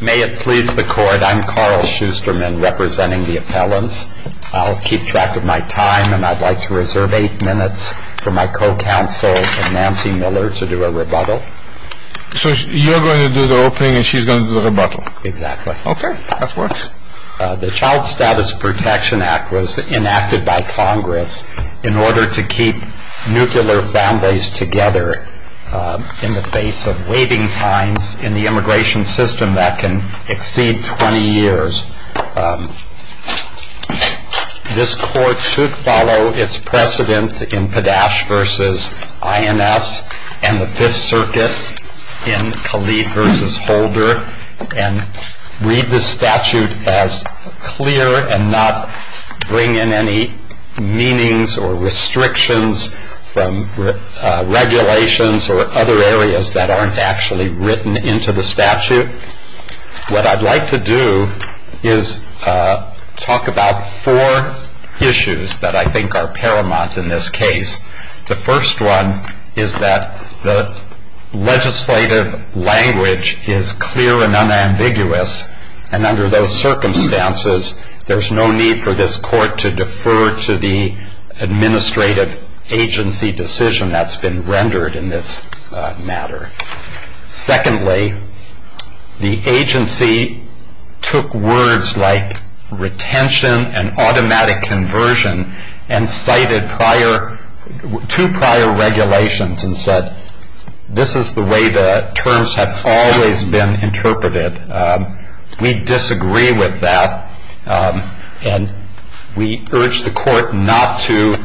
May it please the court, I'm Carl Schusterman representing the appellants. I'll keep track of my time and I'd like to reserve eight minutes for my co-counsel Nancy Miller to do a rebuttal. So you're going to do the opening and she's going to do the rebuttal? Exactly. Okay, that works. The Child Status Protection Act was enacted by Congress in order to keep nuclear families together in the face of waiting times in the immigration system that can exceed 20 years. This court should follow its precedent in Padash v. INS and the Fifth Circuit in Kali v. Holder and read the statute as clear and not bring in any meanings or restrictions from regulations or other areas that aren't actually written into the statute. What I'd like to do is talk about four issues that I think are paramount in this case. The first one is that the legislative language is clear and unambiguous and under those circumstances there's no need for this court to defer to the administrative agency decision that's been rendered in this matter. Secondly, the agency took words like retention and automatic conversion and cited two prior regulations and said this is the way the terms have always been interpreted. We disagree with that and we urge the court not to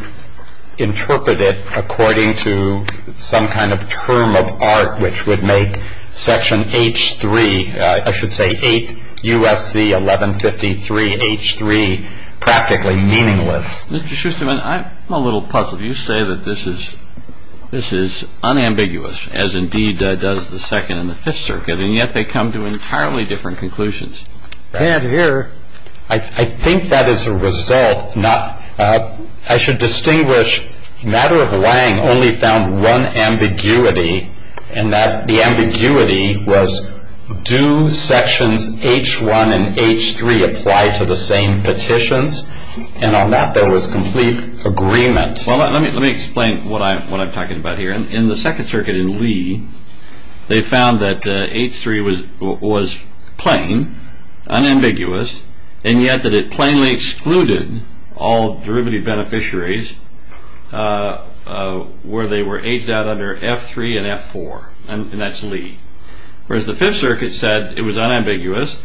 interpret it according to some kind of term of art which would make Section H3, I should say 8 U.S.C. 1153 H3, practically meaningless. Mr. Schusterman, I'm a little puzzled. You say that this is unambiguous as indeed does the Second and the Fifth Circuit and yet they come to entirely different conclusions. I think that is a result. I should distinguish matter of lang only found one ambiguity and that the ambiguity was do Sections H1 and H3 apply to the same petitions and on that there was complete agreement. Let me explain what I'm talking about here. In the Second Circuit in Lee, they found that H3 was plain, unambiguous and yet that it plainly excluded all derivative beneficiaries where they were aged out under F3 and F4 and that's Lee. Whereas the Fifth Circuit said it was unambiguous,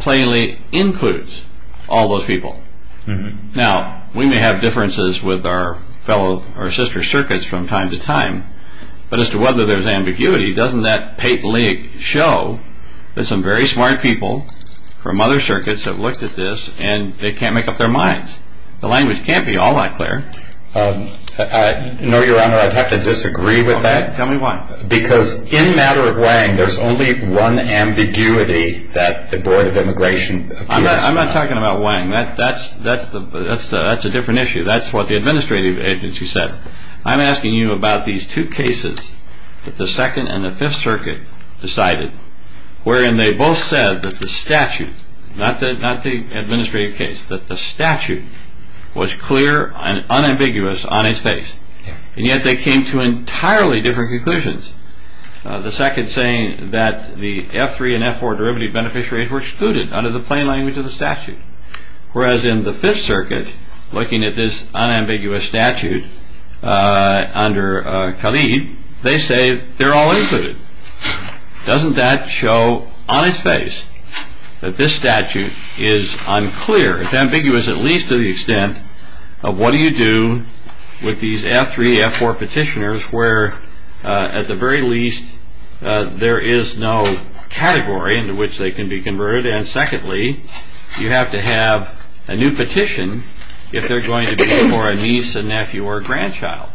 plainly includes all those people. Now, we may have differences with our fellow, our sister circuits from time to time but as to whether there is ambiguity, doesn't that pate league show that some very smart people from other circuits have looked at this and they can't make up their minds. The language can't be all that clear. No, Your Honor. I have to disagree with that. Tell me why. Because in matter of lang, there's only one ambiguity that the Board of Immigration. I'm not talking about lang. That's a different issue. That's what the administrative agency said. I'm asking you about these two cases that the Second and the Fifth Circuit decided wherein they both said that the statute, not the administrative case, that the statute was clear and unambiguous on its face and yet they came to entirely different conclusions. The second saying that the F3 and F4 derivative beneficiaries were excluded under the plain language of the statute, whereas in the Fifth Circuit, looking at this unambiguous statute under Khalid, they say they're all included. Doesn't that show on its face that this statute is unclear, it's ambiguous at least to the extent of what do you do with these F3, F4 petitioners where at the very least there is no category into which they can be converted and secondly, you have to have a new petition if they're going to be for a niece, a nephew or a grandchild.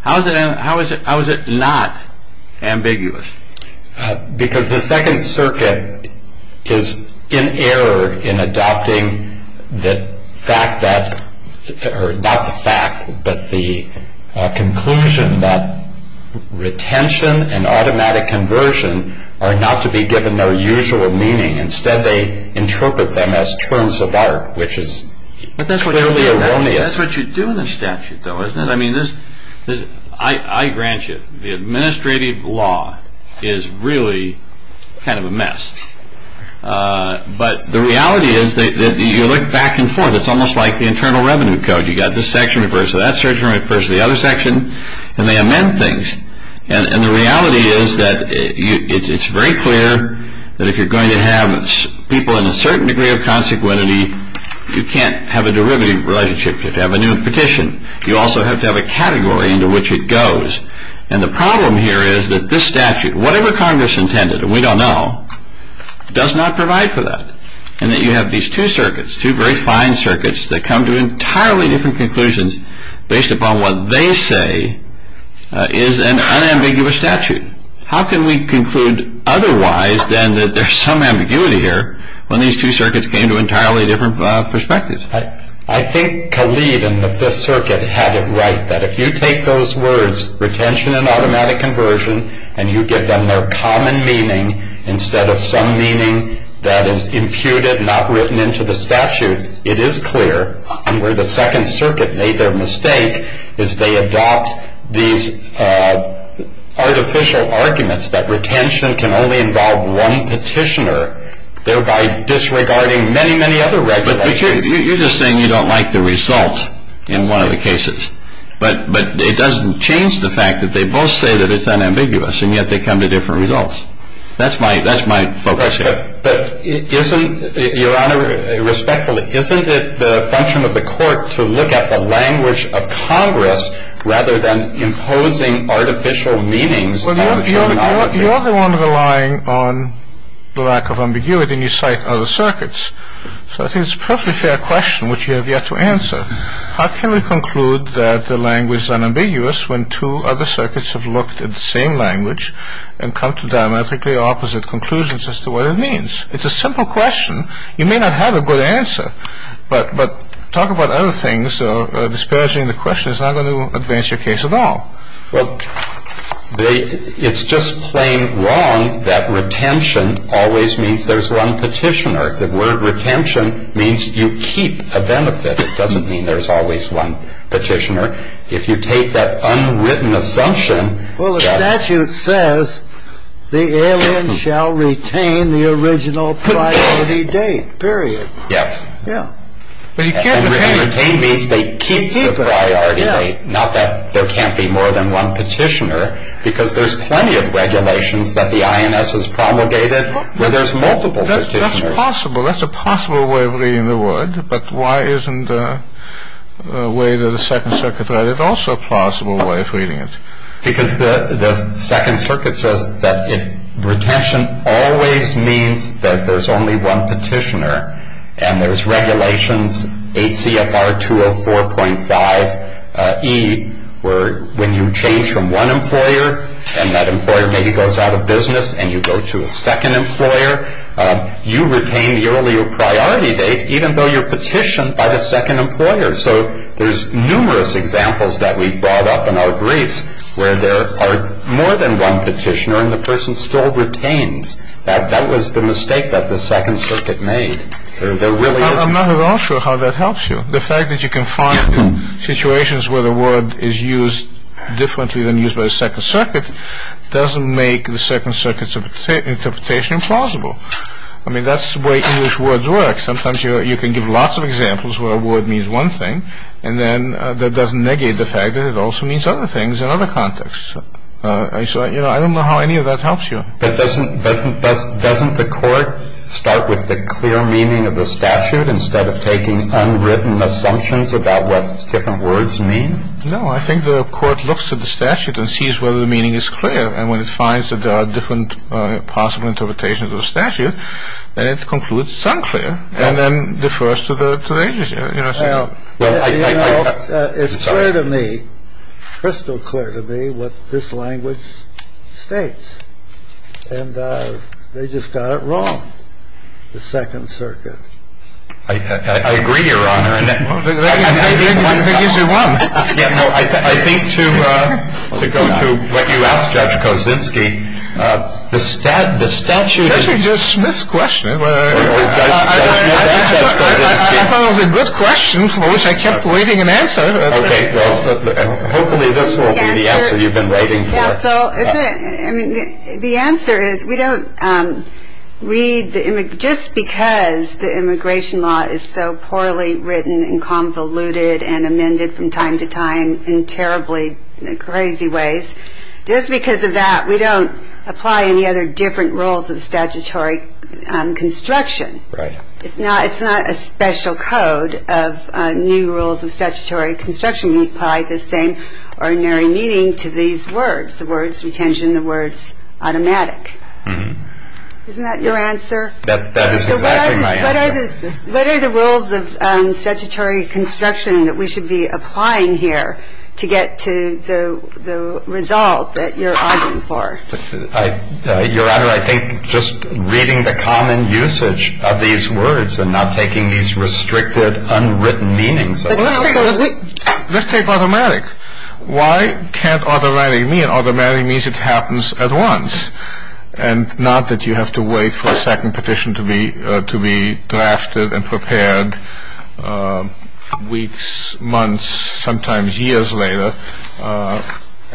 How is it not ambiguous? Because the Second Circuit is in error in adopting the fact that, or not the fact, but the conclusion that retention and automatic conversion are not to be given no usual meaning. Instead they interpret them as terms of art, which is clearly erroneous. That's what you do in the statute though, isn't it? I grant you, the administrative law is really kind of a mess, but the reality is that you look back and forth, it's almost like the Internal Revenue Code. You've got this section refers to that section, refers to the other section, and they amend things. And the reality is that it's very clear that if you're going to have people in a certain degree of consequency, you can't have a derivative relationship, you have to have a new petition. You also have to have a category into which it goes. And the problem here is that this statute, whatever Congress intended, and we don't know, does not provide for that. And that you have these two circuits, two very fine circuits, that come to entirely different conclusions based upon what they say is an unambiguous statute. How can we conclude otherwise than that there's some ambiguity here when these two circuits came to entirely different perspectives? I think Khalid in the Fifth Circuit had it right that if you take those words, retention and automatic conversion, and you give them their common meaning instead of some meaning that is imputed, not written into the statute, it is clear. And where the Second Circuit made their mistake is they adopt these artificial arguments that retention can only involve one petitioner, thereby disregarding many, many other regulations. But you're just saying you don't like the results in one of the cases. But it doesn't change the fact that they both say that it's unambiguous, and yet they come to different results. That's my focus here. But isn't, Your Honor, respectfully, isn't it the function of the Court to look at the language of Congress rather than imposing artificial meanings? Well, you're the one relying on the lack of ambiguity, and you cite other circuits. So I think it's a perfectly fair question, which you have yet to answer. How can we conclude that the language is unambiguous when two other circuits have looked at the same language and come to diametrically opposite conclusions as to what it means? It's a simple question. You may not have a good answer, but talk about other things. Disparaging the question is not going to advance your case at all. Well, it's just plain wrong that retention always means there's one petitioner. The word retention means you keep a benefit. It doesn't mean there's always one petitioner. If you take that unwritten assumption that... Well, the statute says the alien shall retain the original priority date, period. Yes. Yes. But you can't retain... because there's plenty of regulations that the INS has promulgated where there's multiple petitioners. That's possible. That's a possible way of reading the word. But why isn't the way that the Second Circuit read it also a possible way of reading it? Because the Second Circuit says that retention always means that there's only one petitioner, and there's regulations, ACFR 204.5e, where when you change from one employer and that employer maybe goes out of business and you go to a second employer, you retain the earlier priority date even though you're petitioned by the second employer. So there's numerous examples that we've brought up in our briefs where there are more than one petitioner and the person still retains. That was the mistake that the Second Circuit made. There really is... I'm not at all sure how that helps you. The fact that you can find situations where the word is used differently than used by the Second Circuit doesn't make the Second Circuit's interpretation plausible. I mean, that's the way English words work. Sometimes you can give lots of examples where a word means one thing, and then that doesn't negate the fact that it also means other things in other contexts. So, you know, I don't know how any of that helps you. But doesn't the Court start with the clear meaning of the statute instead of taking unwritten assumptions about what different words mean? No. I think the Court looks at the statute and sees whether the meaning is clear, and when it finds that there are different possible interpretations of the statute, then it concludes it's unclear and then defers to the agency. Well, you know, it's clear to me, crystal clear to me, what this language states. And they just got it wrong, the Second Circuit. I agree, Your Honor. I think to go to what you asked, Judge Kosinski, the statute... Judge, you just misquestioned it. I thought it was a good question for which I kept waiting an answer. Okay, well, hopefully this won't be the answer you've been waiting for. Yeah, so, I mean, the answer is we don't read, just because the immigration law is so poorly written and convoluted and amended from time to time in terribly crazy ways, just because of that we don't apply any other different rules of statutory construction Right. It's not a special code of new rules of statutory construction. We apply the same ordinary meaning to these words, the words retention, the words automatic. Isn't that your answer? That is exactly my answer. What are the rules of statutory construction that we should be applying here to get to the result that you're arguing for? Your Honor, I think just reading the common usage of these words and not taking these restricted, unwritten meanings... Let's take automatic. Why can't automatic mean? Automatic means it happens at once and not that you have to wait for a second petition to be drafted and prepared weeks, months, sometimes years later.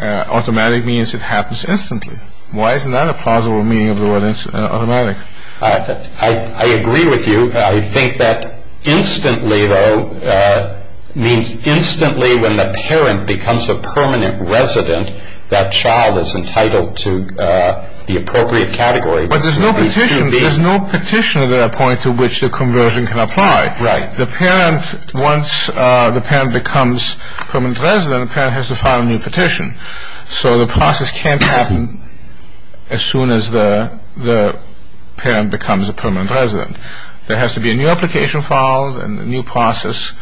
Automatic means it happens instantly. Why isn't that a plausible meaning of the word automatic? I agree with you. I think that instantly, though, means instantly when the parent becomes a permanent resident, that child is entitled to the appropriate category. But there's no petition at that point to which the conversion can apply. Right. The parent, once the parent becomes permanent resident, the parent has to file a new petition. So the process can't happen as soon as the parent becomes a permanent resident. There has to be a new application filed and a new process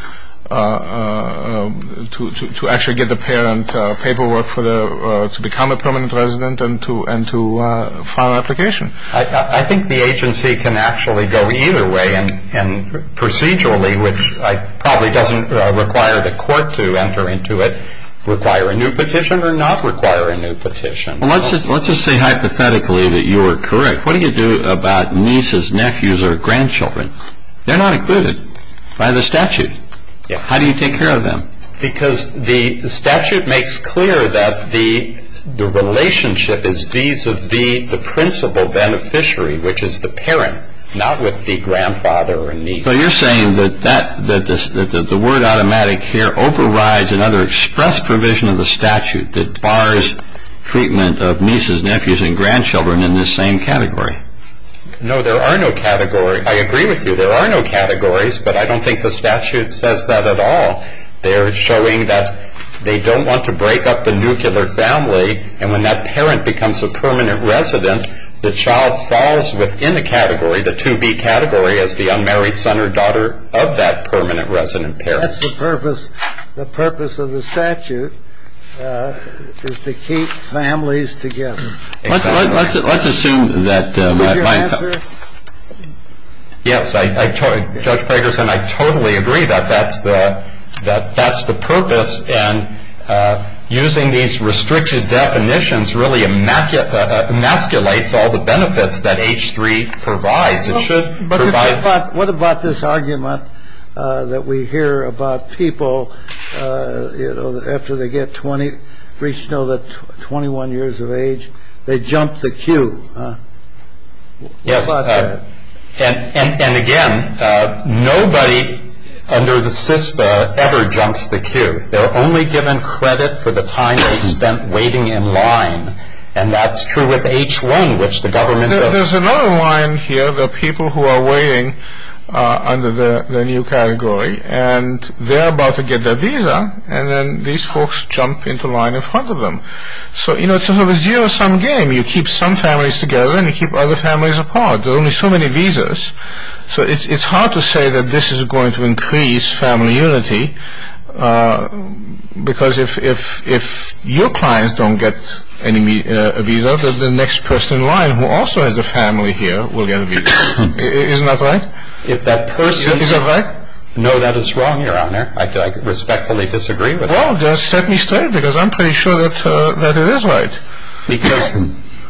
to actually get the parent paperwork to become a permanent resident and to file an application. I think the agency can actually go either way and procedurally, which probably doesn't require the court to enter into it, require a new petition or not require a new petition. Well, let's just say hypothetically that you were correct. What do you do about nieces, nephews, or grandchildren? They're not included by the statute. How do you take care of them? Because the statute makes clear that the relationship is these of the principal beneficiary, which is the parent, not with the grandfather or niece. So you're saying that the word automatic here overrides another express provision of the statute that bars treatment of nieces, nephews, and grandchildren in this same category. No, there are no categories. I agree with you. There are no categories, but I don't think the statute says that at all. They're showing that they don't want to break up the nuclear family, and when that parent becomes a permanent resident, the child falls within the category, the 2B category, as the unmarried son or daughter of that permanent resident parent. That's the purpose of the statute, is to keep families together. Let's assume that my— Would you answer? Yes. Judge Pragerson, I totally agree that that's the purpose, and using these restricted definitions really emasculates all the benefits that H-3 provides. It should provide— But what about this argument that we hear about people, you know, after they get 20, reach 21 years of age, they jump the queue? Yes. And, again, nobody under the CISPA ever jumps the queue. They're only given credit for the time they spent waiting in line, and that's true with H-1, which the government— There's another line here. There are people who are waiting under the new category, and they're about to get their visa, and then these folks jump into line in front of them. So, you know, it's sort of a zero-sum game. You keep some families together, and you keep other families apart. There are only so many visas. So it's hard to say that this is going to increase family unity, because if your clients don't get a visa, the next person in line who also has a family here will get a visa. Isn't that right? If that person— Is that right? No, that is wrong, Your Honor. I respectfully disagree with that. Well, then set me straight, because I'm pretty sure that it is right. Because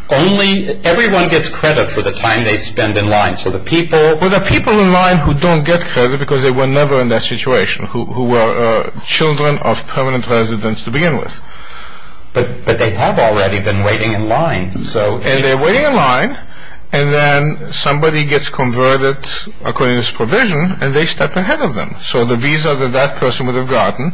only—everyone gets credit for the time they spend in line, so the people— Well, there are people in line who don't get credit because they were never in that situation, who were children of permanent residents to begin with. But they have already been waiting in line, so— And they're waiting in line, and then somebody gets converted according to this provision, and they step ahead of them. So the visa that that person would have gotten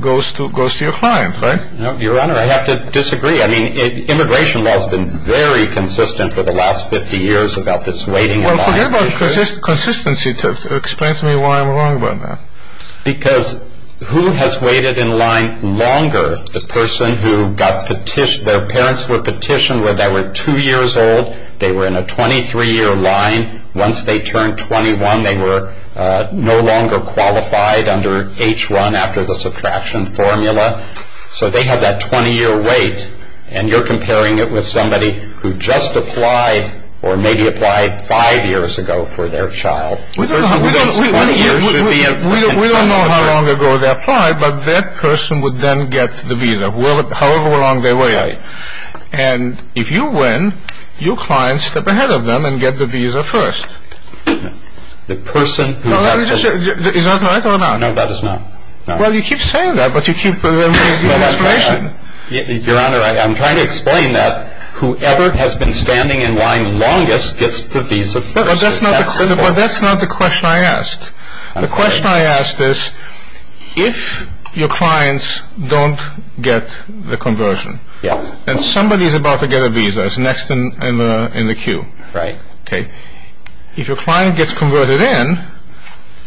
goes to your client, right? No, Your Honor, I have to disagree. I mean, immigration law has been very consistent for the last 50 years about this waiting in line issue. Well, forget about consistency. Explain to me why I'm wrong about that. Because who has waited in line longer? The person who got petitioned—their parents were petitioned when they were two years old. They were in a 23-year line. Once they turned 21, they were no longer qualified under H-1 after the subtraction formula. So they have that 20-year wait, and you're comparing it with somebody who just applied or maybe applied five years ago for their child. We don't know how long ago they applied, but that person would then get the visa, however long they waited. And if you win, your clients step ahead of them and get the visa first. The person who— Is that right or not? No, that is not. Well, you keep saying that, but you keep— Your Honor, I'm trying to explain that. Whoever has been standing in line longest gets the visa first. But that's not the question I asked. The question I asked is, if your clients don't get the conversion, and somebody is about to get a visa, it's next in the queue. Right. Okay. If your client gets converted in,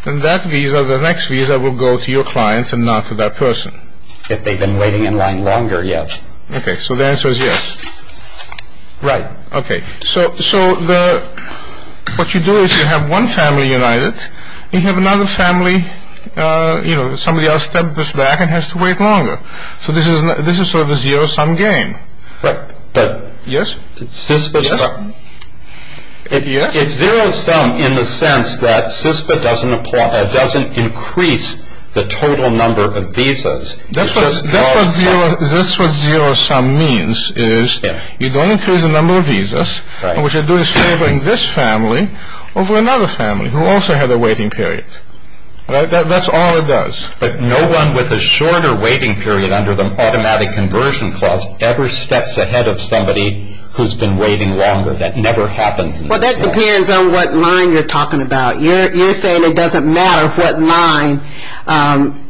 then that visa, the next visa, will go to your clients and not to that person. If they've been waiting in line longer, yes. Okay. So the answer is yes. Right. Okay. So what you do is you have one family united. You have another family, you know, somebody else steps back and has to wait longer. So this is sort of a zero-sum game. Right. Yes? Yes? It's zero-sum in the sense that SISPA doesn't increase the total number of visas. That's what zero-sum means is you don't increase the number of visas, and what you're doing is favoring this family over another family who also had a waiting period. That's all it does. But no one with a shorter waiting period under the Automatic Conversion Clause ever steps ahead of somebody who's been waiting longer. That never happens. Well, that depends on what line you're talking about. You're saying it doesn't matter what line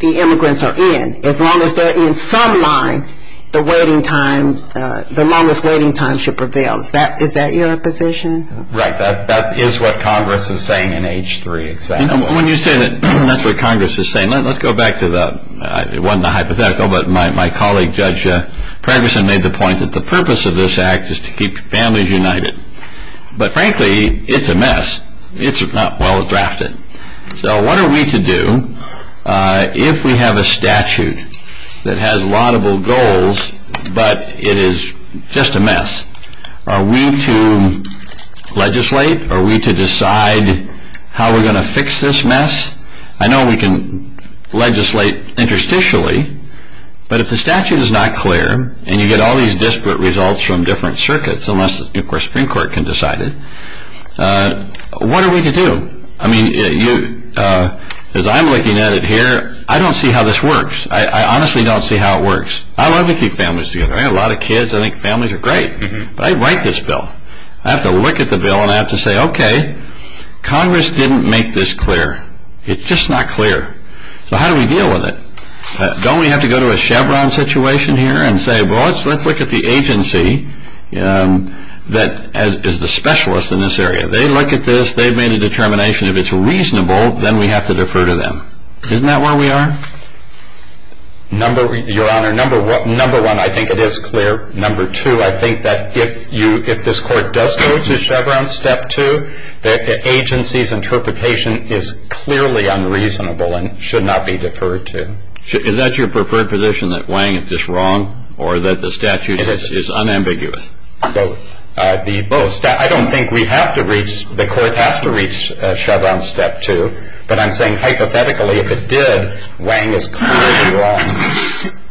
the immigrants are in. As long as they're in some line, the waiting time, the longest waiting time should prevail. Is that your position? Right. That is what Congress is saying in H-3. When you say that that's what Congress is saying, let's go back to the one, the hypothetical, but my colleague Judge Pregerson made the point that the purpose of this act is to keep families united. But frankly, it's a mess. It's not well drafted. So what are we to do if we have a statute that has laudable goals but it is just a mess? Are we to legislate? Are we to decide how we're going to fix this mess? I know we can legislate interstitially, but if the statute is not clear and you get all these disparate results from different circuits, unless, of course, the Supreme Court can decide it, what are we to do? I mean, as I'm looking at it here, I don't see how this works. I honestly don't see how it works. I love to keep families together. I have a lot of kids. I think families are great. But I write this bill. I have to look at the bill and I have to say, okay, Congress didn't make this clear. It's just not clear. So how do we deal with it? Don't we have to go to a Chevron situation here and say, well, let's look at the agency that is the specialist in this area. They look at this. They've made a determination. If it's reasonable, then we have to defer to them. Isn't that where we are? Your Honor, number one, I think it is clear. Number two, I think that if this Court does go to Chevron Step 2, the agency's interpretation is clearly unreasonable and should not be deferred to. Is that your preferred position, that Wang is just wrong or that the statute is unambiguous? Both. I don't think we have to reach, the Court has to reach Chevron Step 2. But I'm saying hypothetically, if it did, Wang is clearly wrong.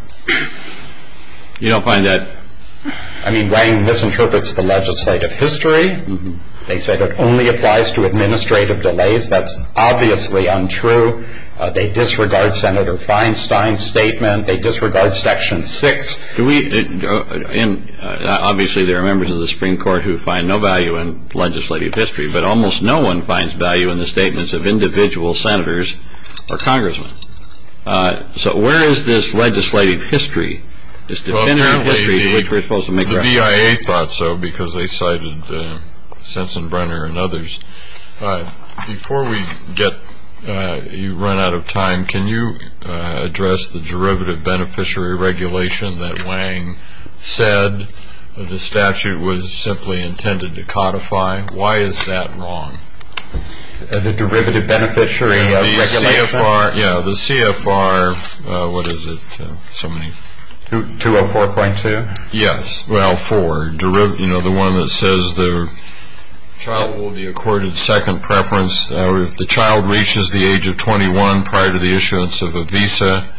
You don't find that? I mean, Wang misinterprets the legislative history. They said it only applies to administrative delays. That's obviously untrue. They disregard Senator Feinstein's statement. They disregard Section 6. Obviously, there are members of the Supreme Court who find no value in legislative history, but almost no one finds value in the statements of individual senators or congressmen. So where is this legislative history, this definitive history to which we're supposed to make reference? The BIA thought so because they cited Sensenbrenner and others. Before we run out of time, can you address the derivative beneficiary regulation that Wang said the statute was simply intended to codify? Why is that wrong? The derivative beneficiary regulation? Yeah, the CFR, what is it, somebody? 204.2? Yes, well, for, you know, the one that says the child will be accorded second preference. If the child reaches the age of 21 prior to the issuance of a visa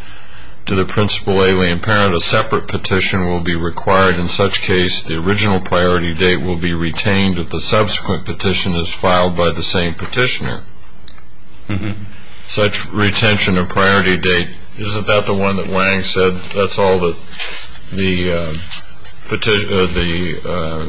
to the principal alien parent, a separate petition will be required. In such case, the original priority date will be retained if the subsequent petition is filed by the same petitioner. Such retention of priority date, isn't that the one that Wang said, that's all that the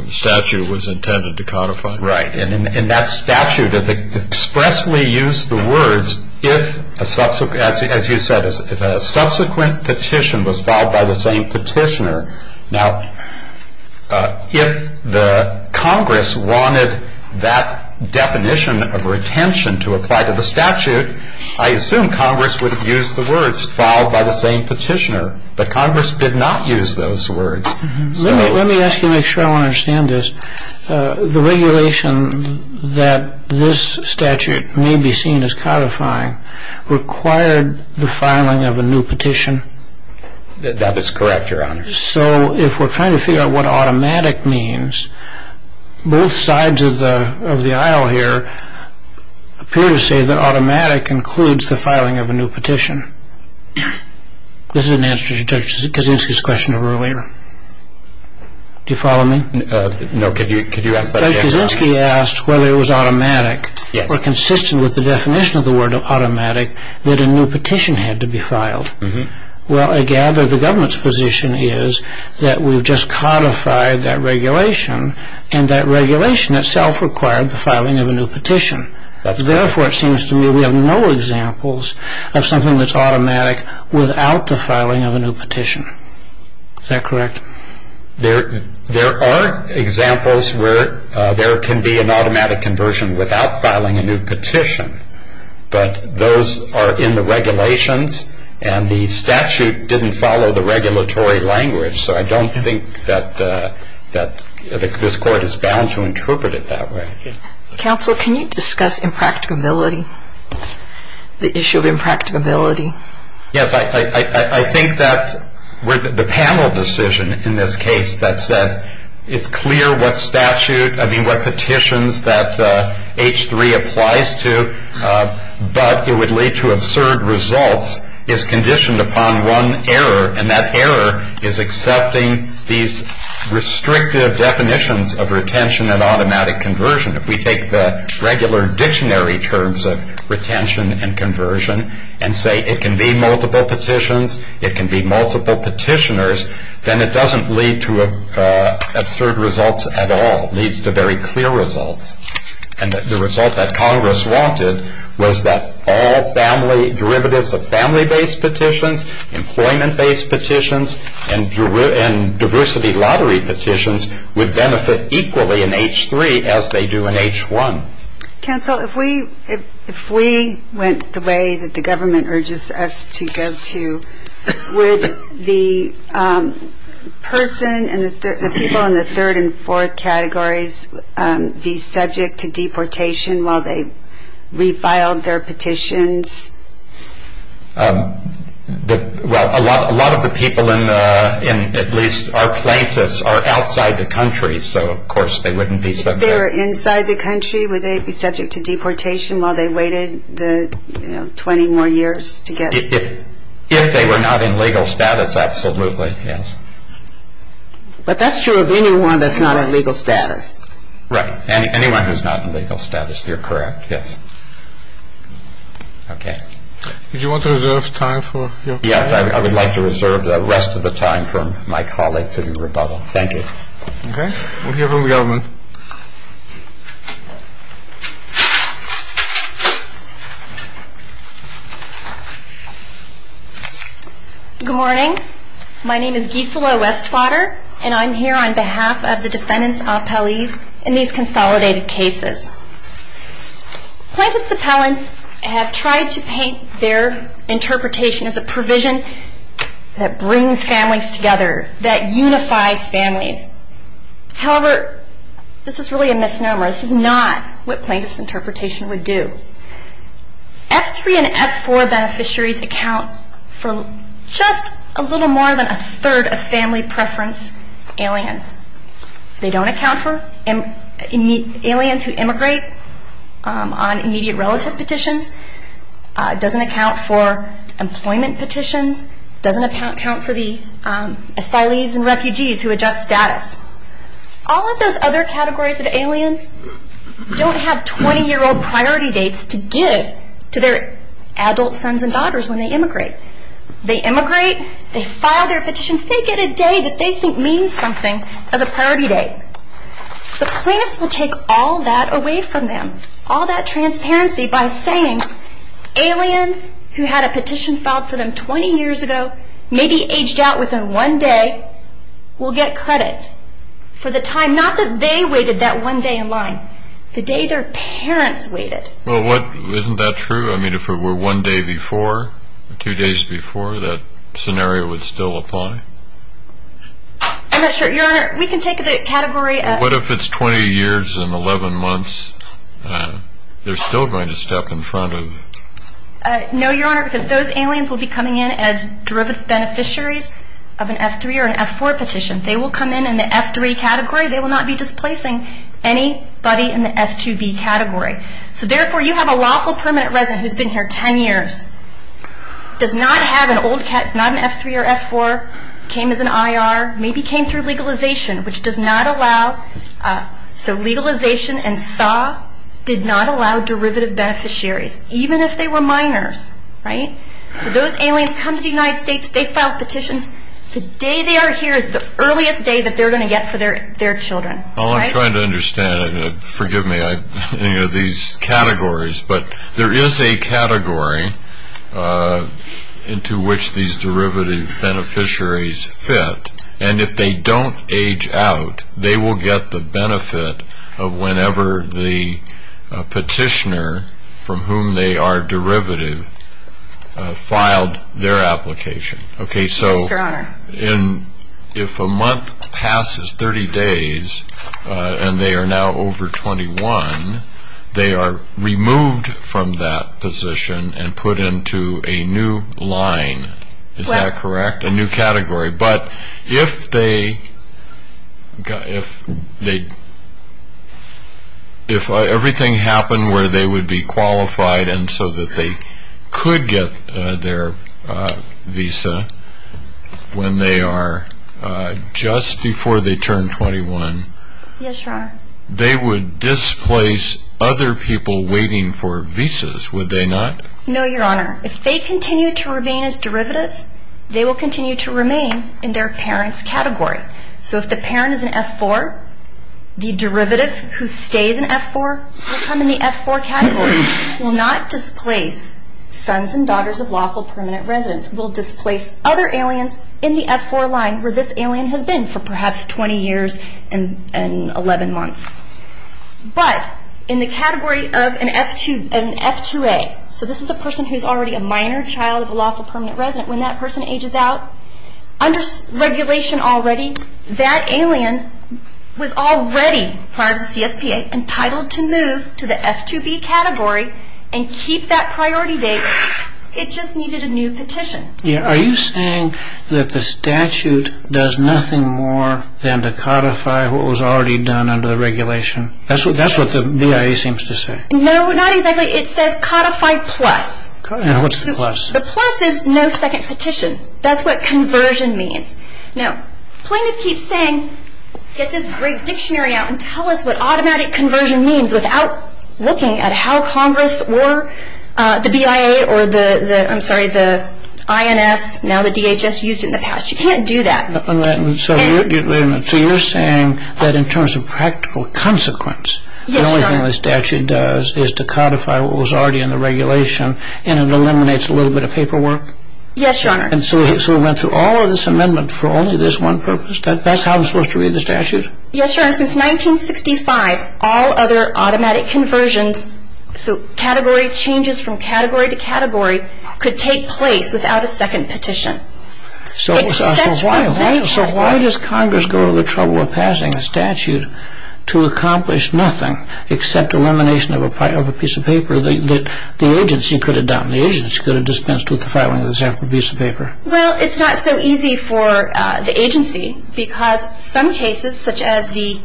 statute was intended to codify? Right, and that statute expressly used the words, as you said, if a subsequent petition was filed by the same petitioner. Now, if the Congress wanted that definition of retention to apply to the statute, I assume Congress would have used the words filed by the same petitioner. But Congress did not use those words. Let me ask you to make sure I understand this. The regulation that this statute may be seen as codifying required the filing of a new petition? That is correct, Your Honor. So if we're trying to figure out what automatic means, both sides of the aisle here appear to say that automatic includes the filing of a new petition. This is an answer to Judge Kaczynski's question earlier. Do you follow me? No. Judge Kaczynski asked whether it was automatic or consistent with the definition of the word automatic that a new petition had to be filed. Well, I gather the government's position is that we've just codified that regulation, and that regulation itself required the filing of a new petition. Therefore, it seems to me we have no examples of something that's automatic without the filing of a new petition. Is that correct? There are examples where there can be an automatic conversion without filing a new petition, but those are in the regulations, and the statute didn't follow the regulatory language, so I don't think that this Court is bound to interpret it that way. Counsel, can you discuss impracticability, the issue of impracticability? Yes, I think that the panel decision in this case that said it's clear what statute, I mean what petitions that H-3 applies to but it would lead to absurd results is conditioned upon one error, and that error is accepting these restrictive definitions of retention and automatic conversion. If we take the regular dictionary terms of retention and conversion and say it can be multiple petitions, it can be multiple petitioners, then it doesn't lead to absurd results at all. It leads to very clear results. And the result that Congress wanted was that all derivatives of family-based petitions, employment-based petitions, and diversity lottery petitions would benefit equally in H-3 as they do in H-1. Counsel, if we went the way that the government urges us to go to, would the person and the people in the third and fourth categories be subject to deportation while they refiled their petitions? Well, a lot of the people in at least our plaintiffs are outside the country, so of course they wouldn't be subject. If they were inside the country, would they be subject to deportation while they waited 20 more years to get? If they were not in legal status, absolutely, yes. But that's true of anyone that's not in legal status. Right. Anyone who's not in legal status, you're correct, yes. Okay. Did you want to reserve time for your panel? Yes. I would like to reserve the rest of the time for my colleagues in the rebuttal. Thank you. Okay. We'll hear from the government. Thank you. Good morning. My name is Gisela Westwater, and I'm here on behalf of the defendants' appellees in these consolidated cases. Plaintiffs' appellants have tried to paint their interpretation as a provision that brings families together, that unifies families. However, this is really a misnomer. This is not what plaintiffs' interpretation would do. F3 and F4 beneficiaries account for just a little more than a third of family preference aliens. They don't account for aliens who immigrate on immediate relative petitions, doesn't account for employment petitions, doesn't account for the asylees and refugees who adjust status. All of those other categories of aliens don't have 20-year-old priority dates to give to their adult sons and daughters when they immigrate. They immigrate, they file their petitions, they get a day that they think means something as a priority date. The plaintiffs will take all that away from them, all that transparency by saying aliens who had a petition filed for them 20 years ago, maybe aged out within one day, will get credit for the time, not that they waited that one day in line, the day their parents waited. Well, isn't that true? I mean, if it were one day before, two days before, that scenario would still apply? I'm not sure. Your Honor, we can take the category of What if it's 20 years and 11 months? They're still going to step in front of No, Your Honor, because those aliens will be coming in as derivative beneficiaries of an F3 or an F4 petition. They will come in in the F3 category. They will not be displacing anybody in the F2B category. So therefore, you have a lawful permanent resident who's been here 10 years, does not have an old cat, is not an F3 or F4, came as an IR, maybe came through legalization, which does not allow So legalization and SAW did not allow derivative beneficiaries, even if they were minors, right? So those aliens come to the United States, they file petitions, the day they are here is the earliest day that they're going to get for their children, right? I'm trying to understand, forgive me, these categories, but there is a category into which these derivative beneficiaries fit, and if they don't age out, they will get the benefit of whenever the petitioner from whom they are derivative filed their application. Yes, Your Honor. If a month passes 30 days and they are now over 21, they are removed from that position and put into a new line. Is that correct? A new category. But if everything happened where they would be qualified and so that they could get their visa, when they are just before they turn 21, they would displace other people waiting for visas, would they not? No, Your Honor. If they continue to remain as derivatives, they will continue to remain in their parent's category. So if the parent is an F4, the derivative who stays in F4 will come in the F4 category, will not displace sons and daughters of lawful permanent residents, will displace other aliens in the F4 line where this alien has been for perhaps 20 years and 11 months. But in the category of an F2A, so this is a person who is already a minor child of a lawful permanent resident, when that person ages out, under regulation already, that alien was already, prior to the CSPA, entitled to move to the F2B category and keep that priority date, it just needed a new petition. Are you saying that the statute does nothing more than to codify what was already done under the regulation? That's what the BIA seems to say. No, not exactly. It says codified plus. And what's the plus? The plus is no second petition. That's what conversion means. Now, plaintiff keeps saying, get this great dictionary out and tell us what automatic conversion means without looking at how Congress or the BIA or the, I'm sorry, the INS, now the DHS, used it in the past. You can't do that. So you're saying that in terms of practical consequence, the only thing the statute does is to codify what was already in the regulation and it eliminates a little bit of paperwork? Yes, Your Honor. And so it went through all of this amendment for only this one purpose? That's how it was supposed to read the statute? Yes, Your Honor. Since 1965, all other automatic conversions, so category changes from category to category, could take place without a second petition. So why does Congress go to the trouble of passing a statute to accomplish nothing except elimination of a piece of paper that the agency could have done? The agency could have dispensed with the filing of the sample piece of paper. Well, it's not so easy for the agency because some cases, such as the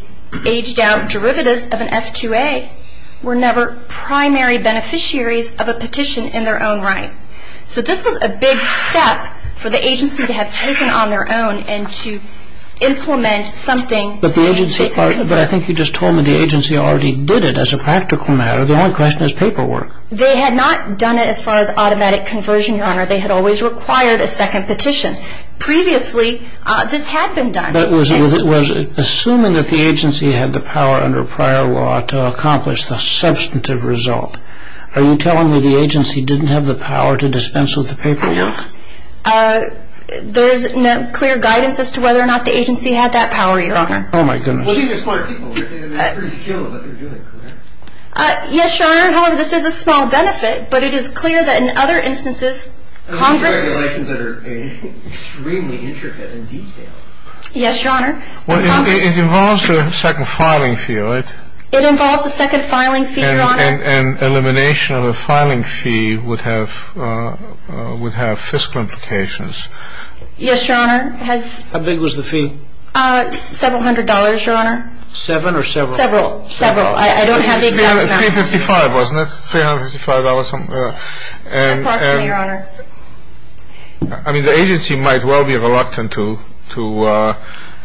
aged-out derivatives of an F2A, were never primary beneficiaries of a petition in their own right. So this was a big step for the agency to have taken on their own and to implement something. But I think you just told me the agency already did it as a practical matter. The only question is paperwork. Yes, Your Honor. And so the agency did not have the power to dispense with the paperwork. They had always required a second petition. Previously, this had been done. But was it assuming that the agency had the power under prior law to accomplish the substantive result? Are you telling me the agency didn't have the power to dispense with the paperwork? No. There is no clear guidance as to whether or not the agency had that power, Your Honor. Oh, my goodness. Well, these are smart people. They're pretty skilled at what they're doing, correct? Yes, Your Honor. However, this is a small benefit. But it is clear that in other instances, Congress ---- Those are regulations that are extremely intricate and detailed. Yes, Your Honor. Congress ---- Well, it involves a second filing fee, right? It involves a second filing fee, Your Honor. Yes, Your Honor. How big was the fee? Several hundred dollars, Your Honor. Seven or several? Several. Several. I don't have the exact amount. $355, wasn't it? $355. Approximately, Your Honor. I mean, the agency might well be reluctant to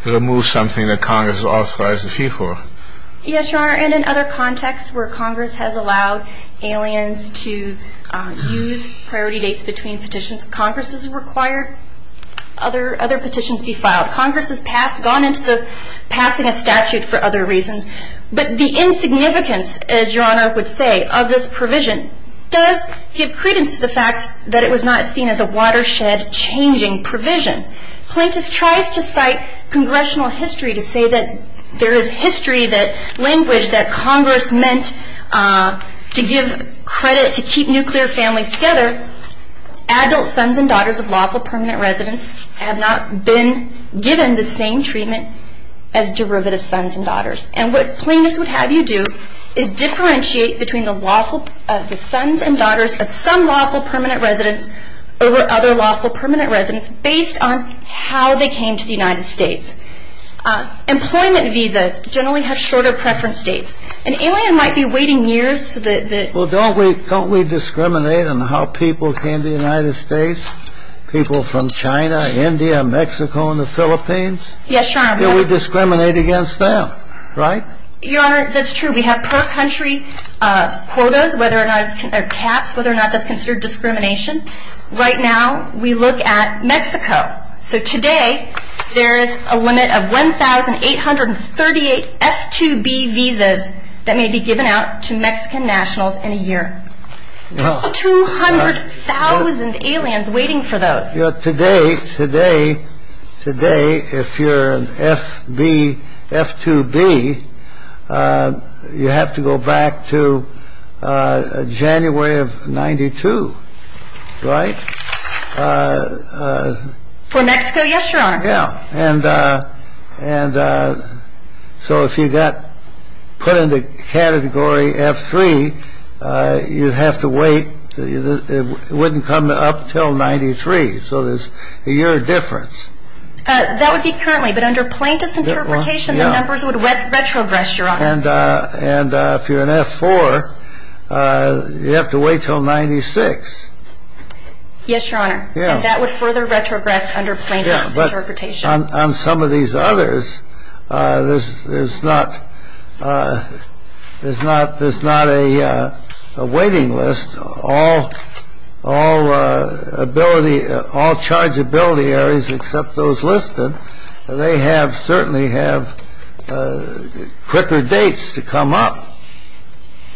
remove something that Congress authorized a fee for. Yes, Your Honor. And in other contexts where Congress has allowed aliens to use priority dates between petitions, Congress has required other petitions be filed. Congress has passed ---- gone into passing a statute for other reasons. But the insignificance, as Your Honor would say, of this provision does give credence to the fact that it was not seen as a watershed changing provision. Plaintiffs tries to cite congressional history to say that there is history that ---- language that Congress meant to give credit to keep nuclear families together. Adult sons and daughters of lawful permanent residents have not been given the same treatment as derivative sons and daughters. And what plaintiffs would have you do is differentiate between the lawful ---- the sons and daughters of some lawful permanent residents over other lawful permanent residents based on how they came to the United States. Employment visas generally have shorter preference dates. An alien might be waiting years so that the ---- Well, don't we discriminate on how people came to the United States? People from China, India, Mexico, and the Philippines? Yes, Your Honor. Then we discriminate against them, right? Your Honor, that's true. We have per country quotas whether or not it's ---- or caps whether or not that's considered discrimination. Right now we look at Mexico. So today there is a limit of 1,838 F-2B visas that may be given out to Mexican nationals in a year. There's 200,000 aliens waiting for those. Today, if you're an F-2B, you have to go back to January of 92, right? For Mexico, yes, Your Honor. Yeah. And so if you got put into Category F-3, you'd have to wait. It wouldn't come up until 93. So there's a year difference. That would be currently. But under plaintiff's interpretation, the numbers would retrogress, Your Honor. And if you're an F-4, you'd have to wait until 96. Yes, Your Honor. That would further retrogress under plaintiff's interpretation. On some of these others, there's not a waiting list. All chargeability areas except those listed, they certainly have quicker dates to come up,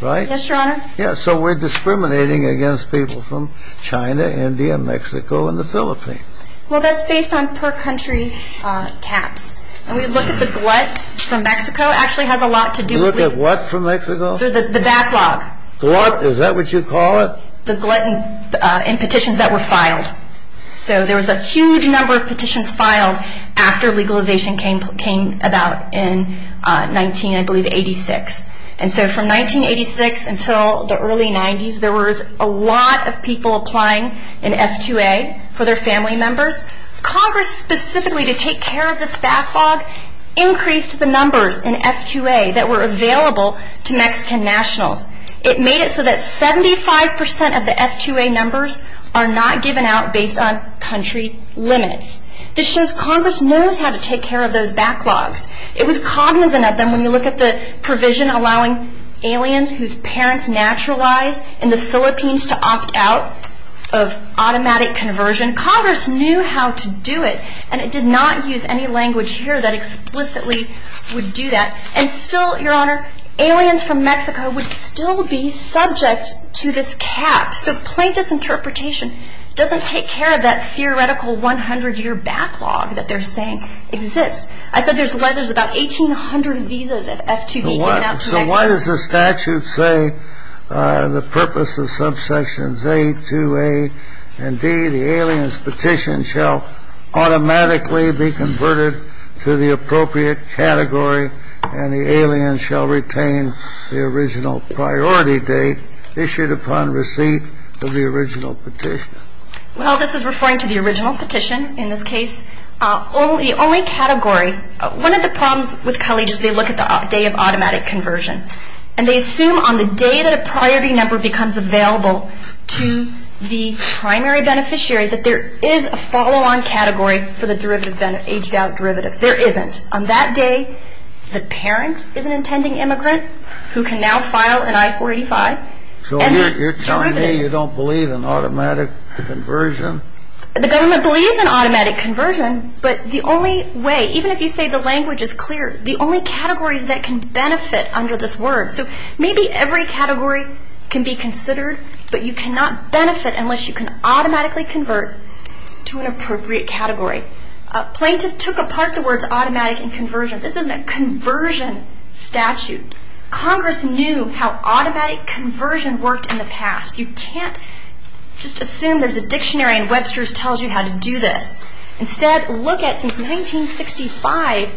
right? Yes, Your Honor. So we're discriminating against people from China, India, Mexico, and the Philippines. Well, that's based on per country caps. And we look at the glut from Mexico actually has a lot to do with the backlog. Glut? Is that what you call it? The glut in petitions that were filed. So there was a huge number of petitions filed after legalization came about in 19, I believe, 86. And so from 1986 until the early 90s, there was a lot of people applying in F-2A for their family members. Congress specifically to take care of this backlog increased the numbers in F-2A that were available to Mexican nationals. It made it so that 75% of the F-2A numbers are not given out based on country limits. This shows Congress knows how to take care of those backlogs. It was cognizant of them when you look at the provision allowing aliens whose parents naturalized in the Philippines to opt out of automatic conversion. Congress knew how to do it, and it did not use any language here that explicitly would do that. And still, Your Honor, aliens from Mexico would still be subject to this cap. So plaintiff's interpretation doesn't take care of that theoretical 100-year backlog that they're saying exists. I said there's about 1,800 visas of F-2B given out to Mexico. Why does the statute say the purpose of subsections A, 2A, and D, the alien's petition shall automatically be converted to the appropriate category and the alien shall retain the original priority date issued upon receipt of the original petition? Well, this is referring to the original petition in this case. The only category, one of the problems with college is they look at the day of automatic conversion, and they assume on the day that a priority number becomes available to the primary beneficiary that there is a follow-on category for the aged-out derivative. There isn't. On that day, the parent is an intending immigrant who can now file an I-485. So you're telling me you don't believe in automatic conversion? The government believes in automatic conversion, but the only way, even if you say the language is clear, the only categories that can benefit under this word. So maybe every category can be considered, but you cannot benefit unless you can automatically convert to an appropriate category. Plaintiff took apart the words automatic and conversion. This isn't a conversion statute. Congress knew how automatic conversion worked in the past. You can't just assume there's a dictionary and Webster's tells you how to do this. Instead, look at since 1965,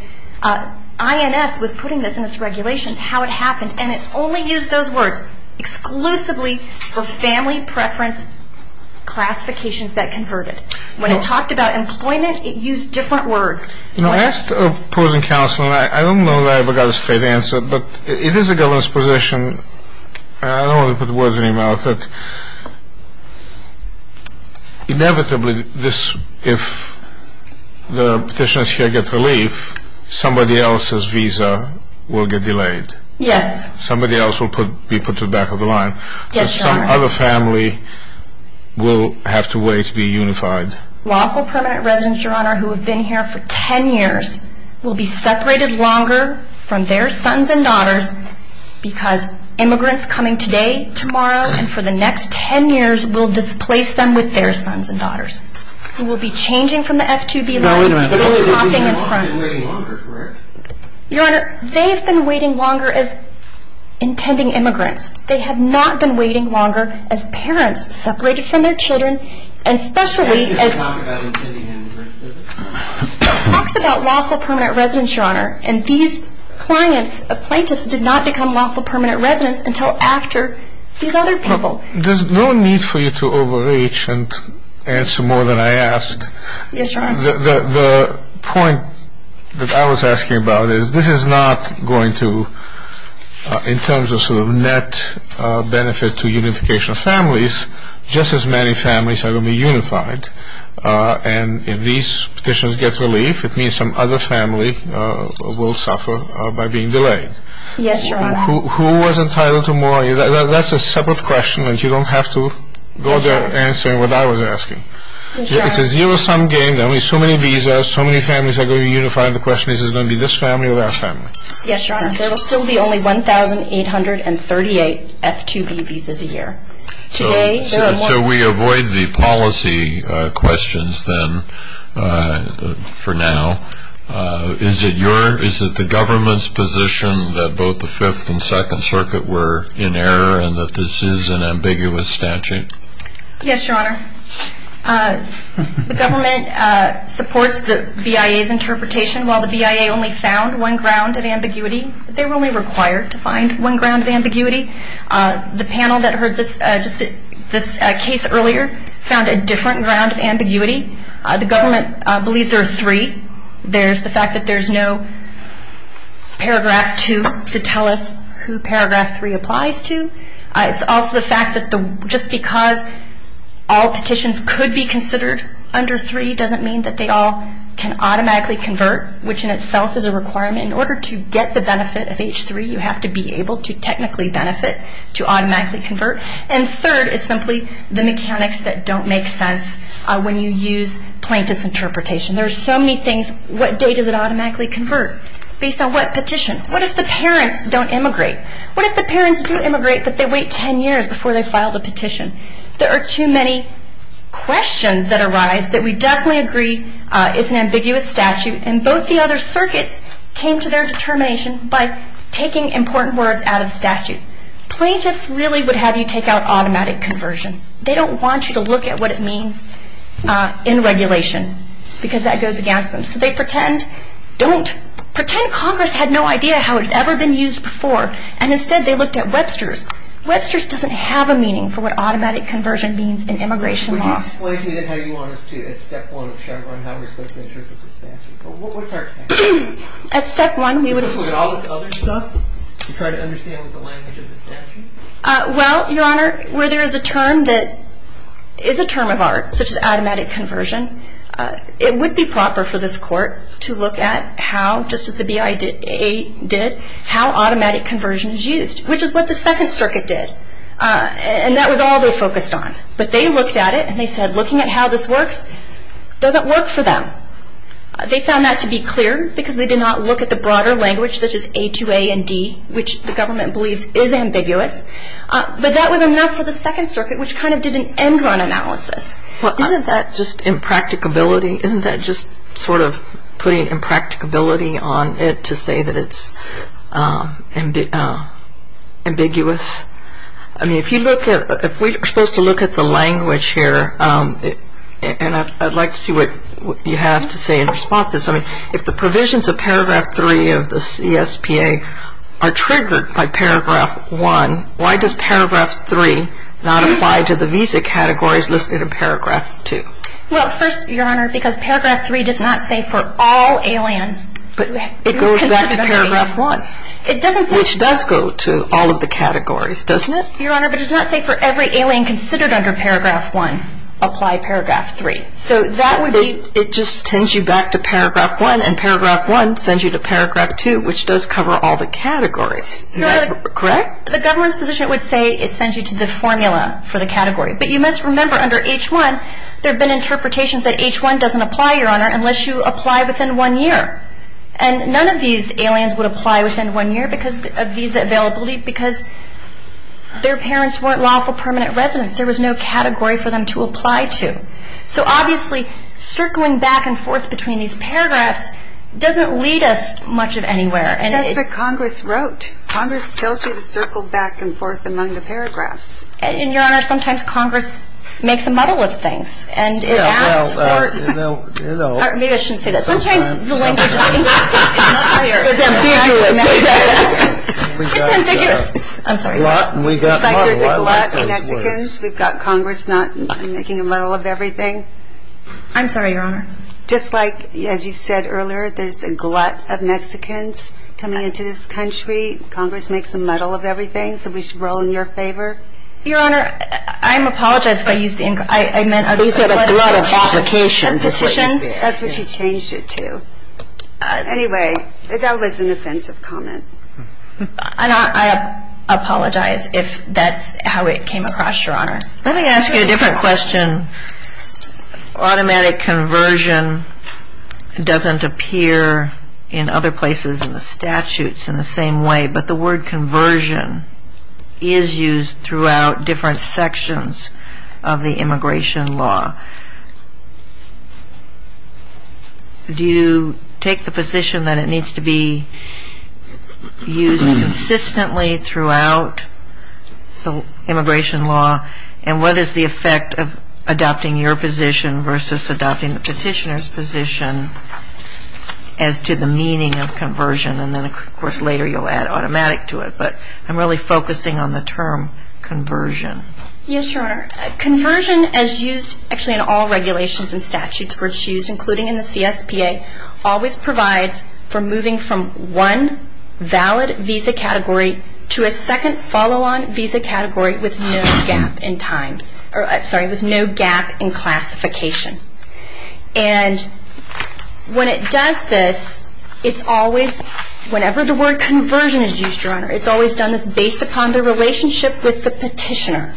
INS was putting this in its regulations, how it happened, and it's only used those words exclusively for family preference classifications that converted. When it talked about employment, it used different words. You know, I asked a prison counselor, and I don't know that I ever got a straight answer, but it is a government's position, and I don't want to put words in your mouth, that inevitably if the petitioners here get relief, somebody else's visa will get delayed. Yes. Somebody else will be put to the back of the line. Yes, Your Honor. Some other family will have to wait to be unified. Lawful permanent residents, Your Honor, who have been here for ten years will be separated longer from their sons and daughters because immigrants coming today, tomorrow, and for the next ten years will displace them with their sons and daughters. They will be changing from the F2B line. They will be hopping in front. They've been waiting longer, correct? Your Honor, they've been waiting longer as intending immigrants. They have not been waiting longer as parents separated from their children, especially as Can you talk about intending immigrants? Talks about lawful permanent residents, Your Honor, and these plaintiffs did not become lawful permanent residents until after these other people. There's no need for you to overreach and answer more than I asked. Yes, Your Honor. The point that I was asking about is this is not going to, in terms of sort of net benefit to unification of families, just as many families are going to be unified, and if these petitions get relief, it means some other family will suffer by being delayed. Yes, Your Honor. Who was entitled to more? That's a separate question, and you don't have to go there answering what I was asking. Yes, Your Honor. It's a zero-sum game. There will be so many visas. So many families are going to be unified. The question is, is it going to be this family or that family? Yes, Your Honor. There will still be only 1,838 F2B visas a year. So we avoid the policy questions then for now. Is it the government's position that both the Fifth and Second Circuit were in error and that this is an ambiguous statute? Yes, Your Honor. The government supports the BIA's interpretation. While the BIA only found one ground of ambiguity, they were only required to find one ground of ambiguity. The panel that heard this case earlier found a different ground of ambiguity. The government believes there are three. There's the fact that there's no Paragraph 2 to tell us who Paragraph 3 applies to. It's also the fact that just because all petitions could be considered under 3 doesn't mean that they all can automatically convert, which in itself is a requirement. In order to get the benefit of H3, you have to be able to technically benefit to automatically convert. And third is simply the mechanics that don't make sense when you use plaintiff's interpretation. There are so many things. What date does it automatically convert based on what petition? What if the parents don't immigrate? What if the parents do immigrate but they wait 10 years before they file the petition? There are too many questions that arise that we definitely agree is an ambiguous statute. And both the other circuits came to their determination by taking important words out of statute. Plaintiffs really would have you take out automatic conversion. They don't want you to look at what it means in regulation because that goes against them. So they pretend Congress had no idea how it had ever been used before, and instead they looked at Webster's. Webster's doesn't have a meaning for what automatic conversion means in immigration law. Could you explain to me how you want us to, at step one of Chevron, how we're supposed to interpret the statute? What's our task? At step one, we would- Is this where all this other stuff, to try to understand what the language of the statute? Well, Your Honor, where there is a term that is a term of art, such as automatic conversion, it would be proper for this Court to look at how, just as the BIA did, how automatic conversion is used, which is what the Second Circuit did. And that was all they focused on. But they looked at it and they said, looking at how this works doesn't work for them. They found that to be clear because they did not look at the broader language, such as A2A and D, which the government believes is ambiguous. But that was enough for the Second Circuit, which kind of did an end-run analysis. Well, isn't that just impracticability? Isn't that just sort of putting impracticability on it to say that it's ambiguous? I mean, if you look at, if we're supposed to look at the language here, and I'd like to see what you have to say in response to this. I mean, if the provisions of Paragraph 3 of the CSPA are triggered by Paragraph 1, why does Paragraph 3 not apply to the visa categories listed in Paragraph 2? Well, first, Your Honor, because Paragraph 3 does not say for all aliens. But it goes back to Paragraph 1. It doesn't say. Which does go to all of the categories, doesn't it? Your Honor, but it does not say for every alien considered under Paragraph 1, apply Paragraph 3. So that would be. It just sends you back to Paragraph 1, and Paragraph 1 sends you to Paragraph 2, which does cover all the categories. Is that correct? The government's position would say it sends you to the formula for the category. But you must remember under H-1 there have been interpretations that H-1 doesn't apply, Your Honor, unless you apply within one year. And none of these aliens would apply within one year because of visa availability because their parents weren't lawful permanent residents. There was no category for them to apply to. So obviously circling back and forth between these paragraphs doesn't lead us much of anywhere. That's what Congress wrote. Congress tells you to circle back and forth among the paragraphs. And, Your Honor, sometimes Congress makes a muddle of things. And it asks for – Well, you know – Maybe I shouldn't say that. Sometimes the language is unclear. It's ambiguous. It's ambiguous. I'm sorry. It's like there's a glut of Mexicans. We've got Congress not making a muddle of everything. I'm sorry, Your Honor. Just like, as you said earlier, there's a glut of Mexicans coming into this country. Congress makes a muddle of everything. So we should roll in your favor? Your Honor, I apologize if I used the – You said a glut of applications. That's what you changed it to. Anyway, that was an offensive comment. And I apologize if that's how it came across, Your Honor. Let me ask you a different question. Automatic conversion doesn't appear in other places in the statutes in the same way. But the word conversion is used throughout different sections of the immigration law. Do you take the position that it needs to be used consistently throughout the immigration law? And what is the effect of adopting your position versus adopting the petitioner's position as to the meaning of conversion? And then, of course, later you'll add automatic to it. But I'm really focusing on the term conversion. Yes, Your Honor. Conversion, as used actually in all regulations and statutes where it's used, including in the CSPA, always provides for moving from one valid visa category to a second follow-on visa category with no gap in time. Sorry, with no gap in classification. And when it does this, it's always, whenever the word conversion is used, Your Honor, it's always done this based upon the relationship with the petitioner.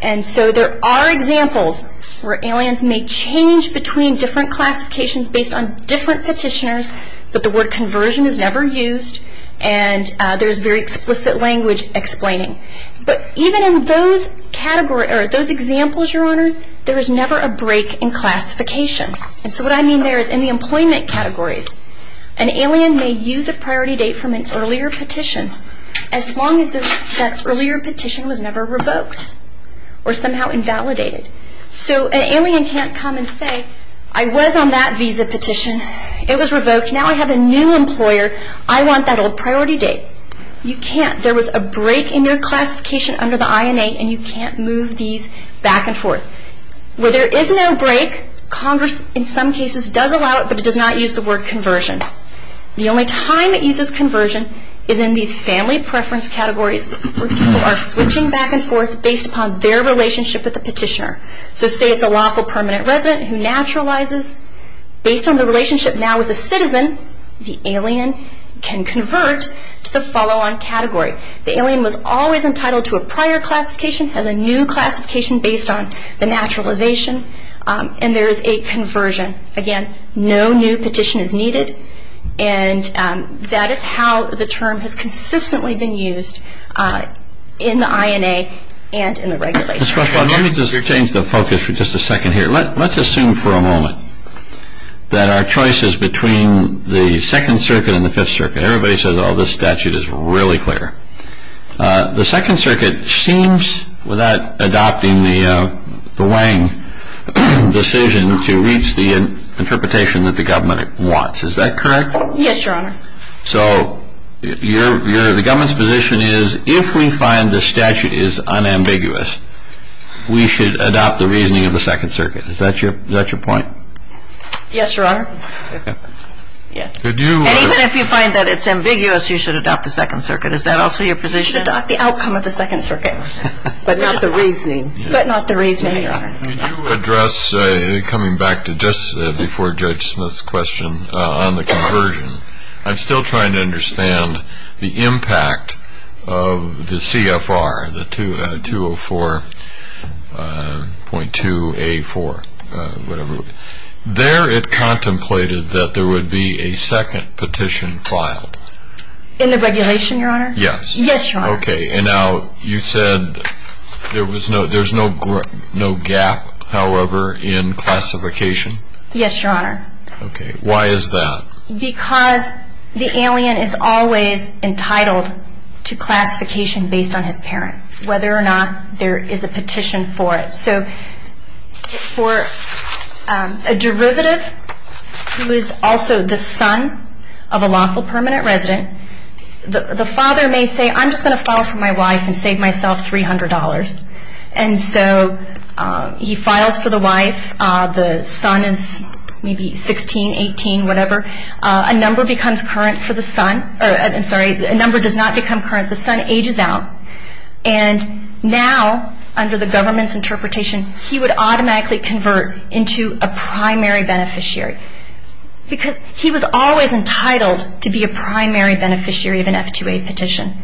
And so there are examples where aliens may change between different classifications based on different petitioners, but the word conversion is never used, and there's very explicit language explaining. But even in those examples, Your Honor, there is never a break in classification. And so what I mean there is in the employment categories, an alien may use a priority date from an earlier petition as long as that earlier petition was never revoked or somehow invalidated. So an alien can't come and say, I was on that visa petition. It was revoked. Now I have a new employer. I want that old priority date. You can't. There was a break in your classification under the INA, and you can't move these back and forth. Where there is no break, Congress in some cases does allow it, but it does not use the word conversion. The only time it uses conversion is in these family preference categories where people are switching back and forth based upon their relationship with the petitioner. So say it's a lawful permanent resident who naturalizes. Based on the relationship now with the citizen, the alien can convert to the follow-on category. The alien was always entitled to a prior classification, has a new classification based on the naturalization, and there is a conversion. Again, no new petition is needed, and that is how the term has consistently been used in the INA and in the regulations. Let me just change the focus for just a second here. Let's assume for a moment that our choice is between the Second Circuit and the Fifth Circuit. Everybody says, oh, this statute is really clear. The Second Circuit seems, without adopting the Wang decision, to reach the interpretation that the government wants. Is that correct? Yes, Your Honor. So the government's position is, if we find the statute is unambiguous, we should adopt the reasoning of the Second Circuit. Is that your point? Yes, Your Honor. And even if you find that it's ambiguous, you should adopt the Second Circuit. Is that also your position? You should adopt the outcome of the Second Circuit, but not the reasoning. But not the reasoning, Your Honor. Could you address, coming back to just before Judge Smith's question on the conversion, I'm still trying to understand the impact of the CFR, the 204.2A4, whatever it was. There it contemplated that there would be a second petition filed. In the regulation, Your Honor? Yes. Yes, Your Honor. Okay, and now you said there's no gap, however, in classification? Yes, Your Honor. Okay. Why is that? Because the alien is always entitled to classification based on his parent, whether or not there is a petition for it. So for a derivative who is also the son of a lawful permanent resident, the father may say, I'm just going to file for my wife and save myself $300. And so he files for the wife. The son is maybe 16, 18, whatever. A number becomes current for the son. I'm sorry, a number does not become current. The son ages out. And now, under the government's interpretation, he would automatically convert into a primary beneficiary because he was always entitled to be a primary beneficiary of an F2A petition.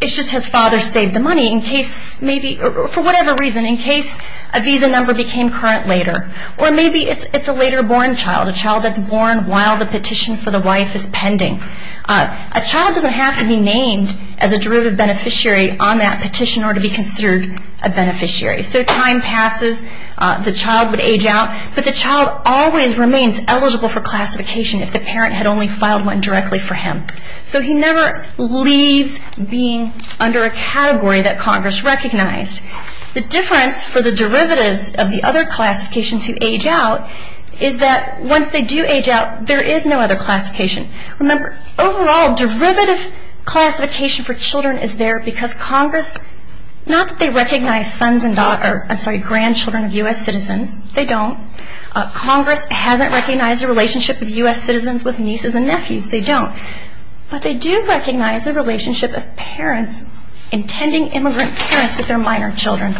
It's just his father saved the money for whatever reason, in case a visa number became current later. Or maybe it's a later born child, a child that's born while the petition for the wife is pending. A child doesn't have to be named as a derivative beneficiary on that petition or to be considered a beneficiary. So time passes. The child would age out. But the child always remains eligible for classification if the parent had only filed one directly for him. So he never leaves being under a category that Congress recognized. The difference for the derivatives of the other classifications who age out is that once they do age out, there is no other classification. Remember, overall, derivative classification for children is there because Congress, not that they recognize sons and daughters, I'm sorry, grandchildren of U.S. citizens. They don't. Congress hasn't recognized the relationship of U.S. citizens with nieces and nephews. They don't. But they do recognize the relationship of parents, intending immigrant parents, with their minor children.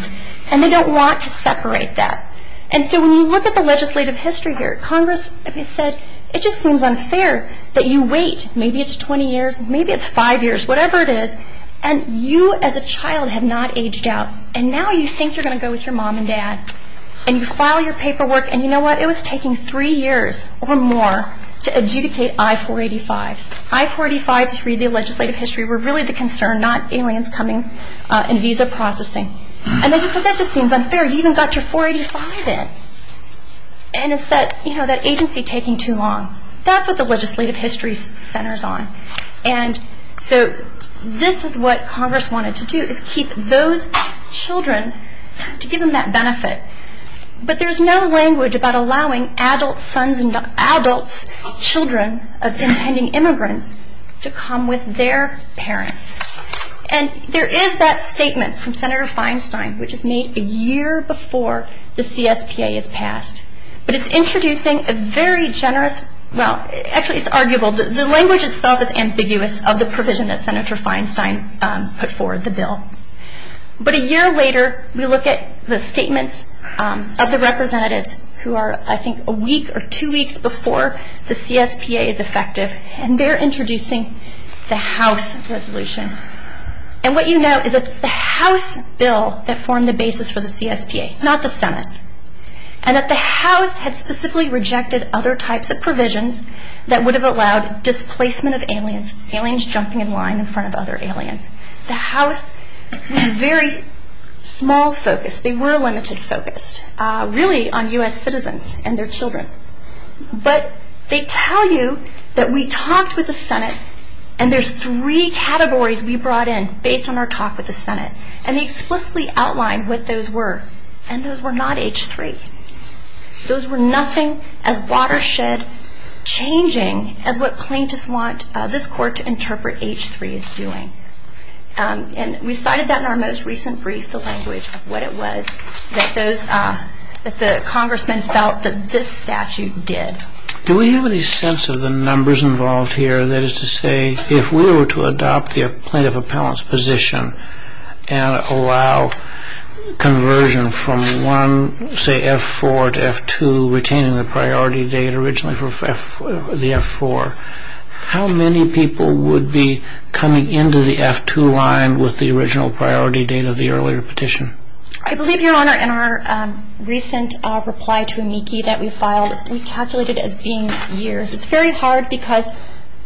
And they don't want to separate that. And so when you look at the legislative history here, Congress has said it just seems unfair that you wait. Maybe it's 20 years. Maybe it's five years. Whatever it is. And you as a child have not aged out. And now you think you're going to go with your mom and dad. And you file your paperwork. And you know what? It was taking three years or more to adjudicate I-485s. I-485s read the legislative history were really the concern, not aliens coming and visa processing. And they just said that just seems unfair. You even got your 485 in. And it's that agency taking too long. That's what the legislative history centers on. And so this is what Congress wanted to do, is keep those children to give them that benefit. But there's no language about allowing adult sons and adults, children of intending immigrants, to come with their parents. And there is that statement from Senator Feinstein, which is made a year before the CSPA is passed. But it's introducing a very generous, well, actually it's arguable. The language itself is ambiguous of the provision that Senator Feinstein put forward, the bill. But a year later, we look at the statements of the representatives who are, I think, a week or two weeks before the CSPA is effective. And they're introducing the House resolution. And what you note is that it's the House bill that formed the basis for the CSPA, not the Senate. And that the House had specifically rejected other types of provisions that would have allowed displacement of aliens, aliens jumping in line in front of other aliens. The House was very small focused. They were limited focused, really, on U.S. citizens and their children. But they tell you that we talked with the Senate, and there's three categories we brought in based on our talk with the Senate. And they explicitly outlined what those were. And those were not H-3. Those were nothing as watershed changing as what plaintiffs want this court to interpret H-3 as doing. And we cited that in our most recent brief, the language of what it was that the congressmen felt that this statute did. Do we have any sense of the numbers involved here? That is to say, if we were to adopt the plaintiff appellant's position and allow conversion from one, say, F-4 to F-2, retaining the priority date originally for the F-4, how many people would be coming into the F-2 line with the original priority date of the earlier petition? I believe, Your Honor, in our recent reply to amici that we filed, we calculated as being years. It's very hard because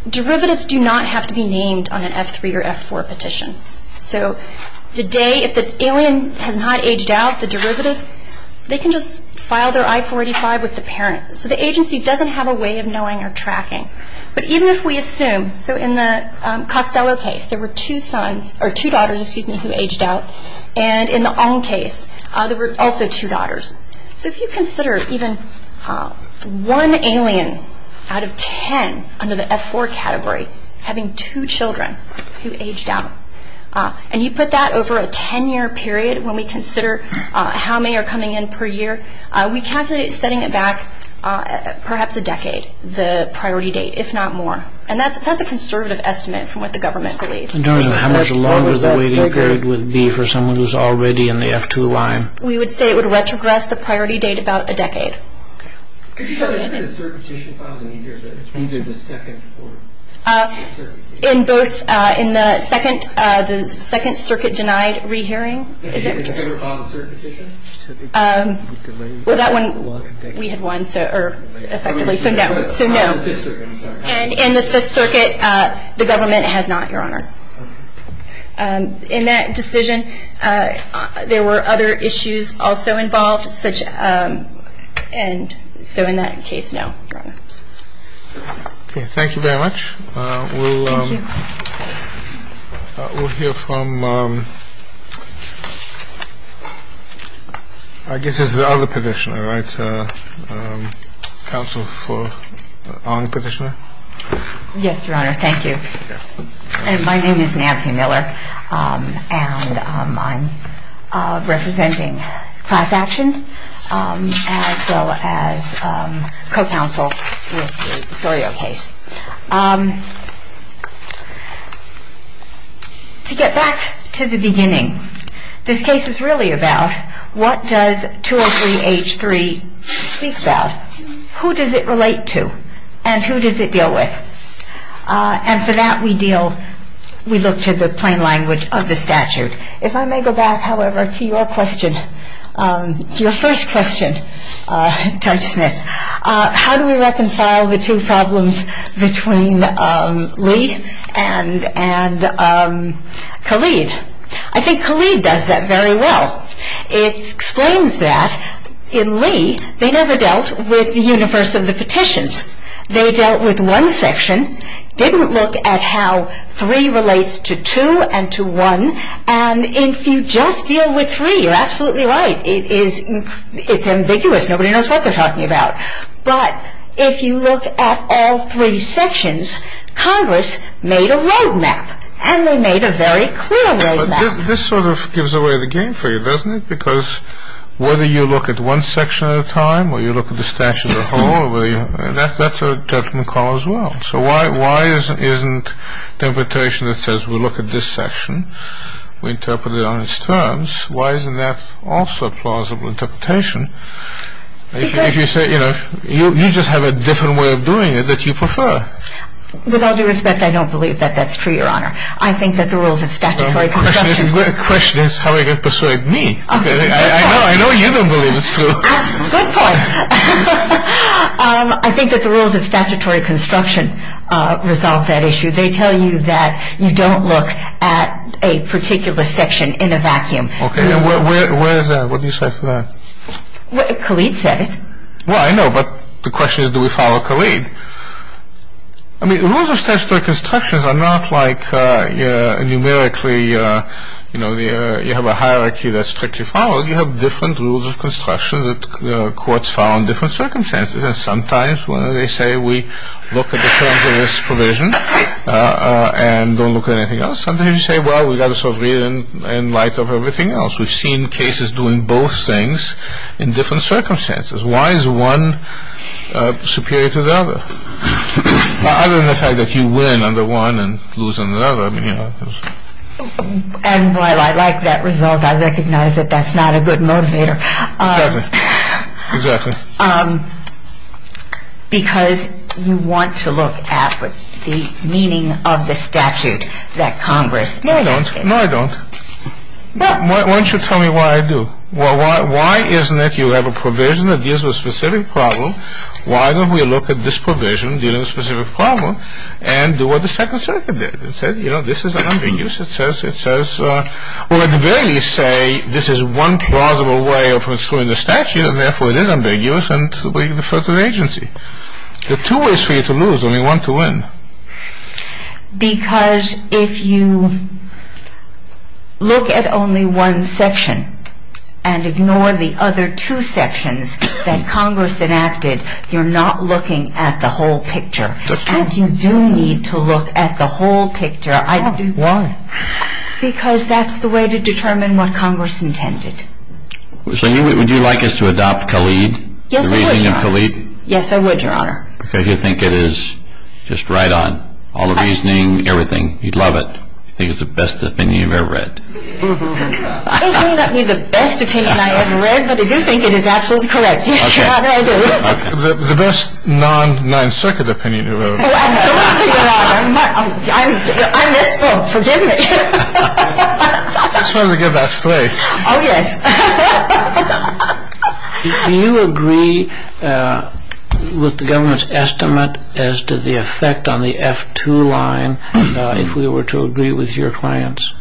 derivatives do not have to be named on an F-3 or F-4 petition. So the day, if the alien has not aged out, the derivative, they can just file their I-485 with the parent. So the agency doesn't have a way of knowing or tracking. But even if we assume, so in the Costello case, there were two sons, or two daughters, excuse me, who aged out. And in the Ong case, there were also two daughters. So if you consider even one alien out of ten under the F-4 category having two children who aged out, and you put that over a 10-year period when we consider how many are coming in per year, we calculate it as setting it back perhaps a decade, the priority date, if not more. And that's a conservative estimate from what the government believes. In terms of how much longer the waiting period would be for someone who's already in the F-2 line? We would say it would retrogress the priority date about a decade. Could you show the circuit petition files in here, either the second or? In both, in the second, the second circuit denied re-hearing. Is it on the circuit petition? Well, that one, we had one, effectively, so no. On the fifth circuit, I'm sorry. On the fifth circuit, we had one, effectively, so no. And on the eighth circuit, we had one, effectively, so no. So in that decision, there were other issues also involved, and so in that case, no, Your Honor. My name is Nancy Miller, and I'm representing class action as well as co-counsel with the SORYO case. To get back to the beginning, this case is really about what does 203-H3 speak about? Who does it relate to, and who does it deal with? And for that, we deal, we look to the plain language of the statute. If I may go back, however, to your question, your first question, Judge Smith, how do we reconcile the two problems between Lee and Khalid? I think Khalid does that very well. It explains that in Lee, they never dealt with the universe of the petitions. They dealt with one section, didn't look at how three relates to two and to one, and if you just deal with three, you're absolutely right. It's ambiguous. Nobody knows what they're talking about, but if you look at all three sections, Congress made a road map, and they made a very clear road map. This sort of gives away the game for you, doesn't it? Because whether you look at one section at a time or you look at the statute as a whole, that's a judgment call as well. So why isn't the imputation that says we look at this section, we interpret it on its terms, why isn't that also a plausible interpretation if you say, you know, you just have a different way of doing it that you prefer? With all due respect, I don't believe that that's true, Your Honor. I think that the rules of statutory construction The question is how they can persuade me. I know you don't believe it's true. Good point. I think that the rules of statutory construction resolve that issue. They tell you that you don't look at a particular section in a vacuum. Okay, and where is that? What do you say to that? Khalid said it. Well, I know, but the question is do we follow Khalid? I mean, the rules of statutory construction are not like numerically, you know, you have a hierarchy that's strictly followed. Well, you have different rules of construction that courts follow in different circumstances, and sometimes when they say we look at the terms of this provision and don't look at anything else, sometimes you say, well, we've got to sort of read it in light of everything else. We've seen cases doing both things in different circumstances. Why is one superior to the other? Other than the fact that you win under one and lose under the other. And while I like that result, I recognize that that's not a good motivator. Exactly. Because you want to look at the meaning of the statute that Congress. No, I don't. No, I don't. Why don't you tell me why I do? Well, why isn't it you have a provision that deals with a specific problem, why don't we look at this provision dealing with a specific problem and do what the Second Circuit did and said, you know, this is ambiguous. It says, well, at the very least say this is one plausible way of restoring the statute and therefore it is ambiguous and we refer to the agency. There are two ways for you to lose, only one to win. Because if you look at only one section and ignore the other two sections that Congress enacted, you're not looking at the whole picture. And you do need to look at the whole picture. Why? Because that's the way to determine what Congress intended. So would you like us to adopt Khalid? Yes, I would, Your Honor. The reasoning of Khalid? Yes, I would, Your Honor. Because you think it is just right on, all the reasoning, everything. You'd love it. I think it's the best opinion you've ever read. I don't think that would be the best opinion I've ever read, but I do think it is absolutely correct. Yes, Your Honor, I do. The best non-Ninth Circuit opinion you've ever read. Oh, I'm sorry, Your Honor. I misspoke. Forgive me. I just wanted to get that straight. Oh, yes. Do you agree with the government's estimate as to the effect on the F-2 line if we were to agree with your clients?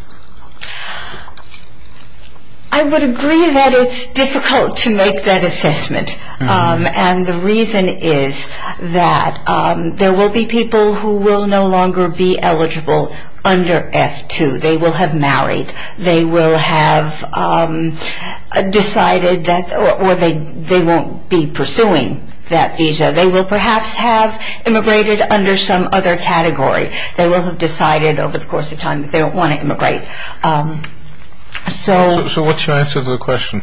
I would agree that it's difficult to make that assessment, and the reason is that there will be people who will no longer be eligible under F-2. They will have married. They will have decided that they won't be pursuing that visa. They will perhaps have immigrated under some other category. They will have decided over the course of time that they don't want to immigrate. So what's your answer to the question?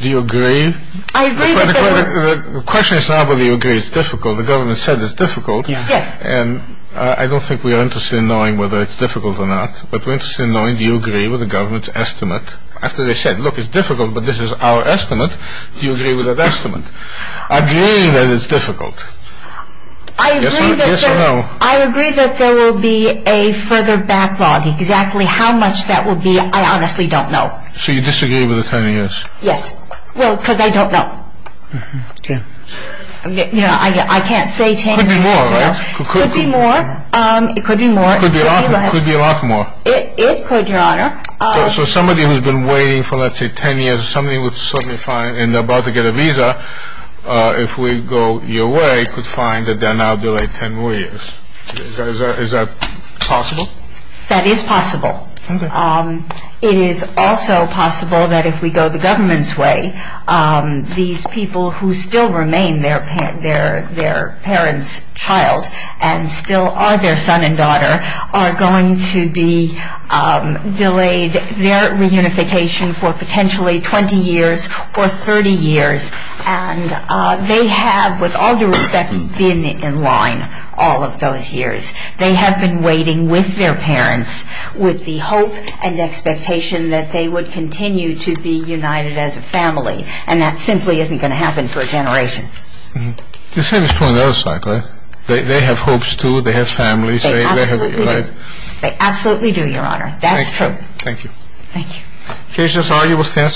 Do you agree? The question is not whether you agree it's difficult. The government said it's difficult, and I don't think we are interested in knowing whether it's difficult or not, but we're interested in knowing do you agree with the government's estimate. After they said, look, it's difficult, but this is our estimate, do you agree with that estimate? Agreeing that it's difficult. Yes or no? I agree that there will be a further backlog. Exactly how much that will be, I honestly don't know. So you disagree with the 10 years? Yes. Well, because I don't know. You know, I can't say 10 years. It could be more, right? It could be more. It could be more. It could be a lot more. It could, Your Honor. So somebody who's been waiting for, let's say, 10 years, and they're about to get a visa, if we go your way, could find that they're now delayed 10 more years. Is that possible? That is possible. It is also possible that if we go the government's way, these people who still remain their parents' child and still are their son and daughter are going to be delayed their reunification for potentially 20 years or 30 years. And they have, with all due respect, been in line all of those years. They have been waiting with their parents with the hope and expectation that they would continue to be united as a family. And that simply isn't going to happen for a generation. The same is true on the other side, correct? They have hopes, too. They have families. They absolutely do. They absolutely do, Your Honor. That's true. Thank you. Thank you. Case disarguable stands submitted. We are adjourned.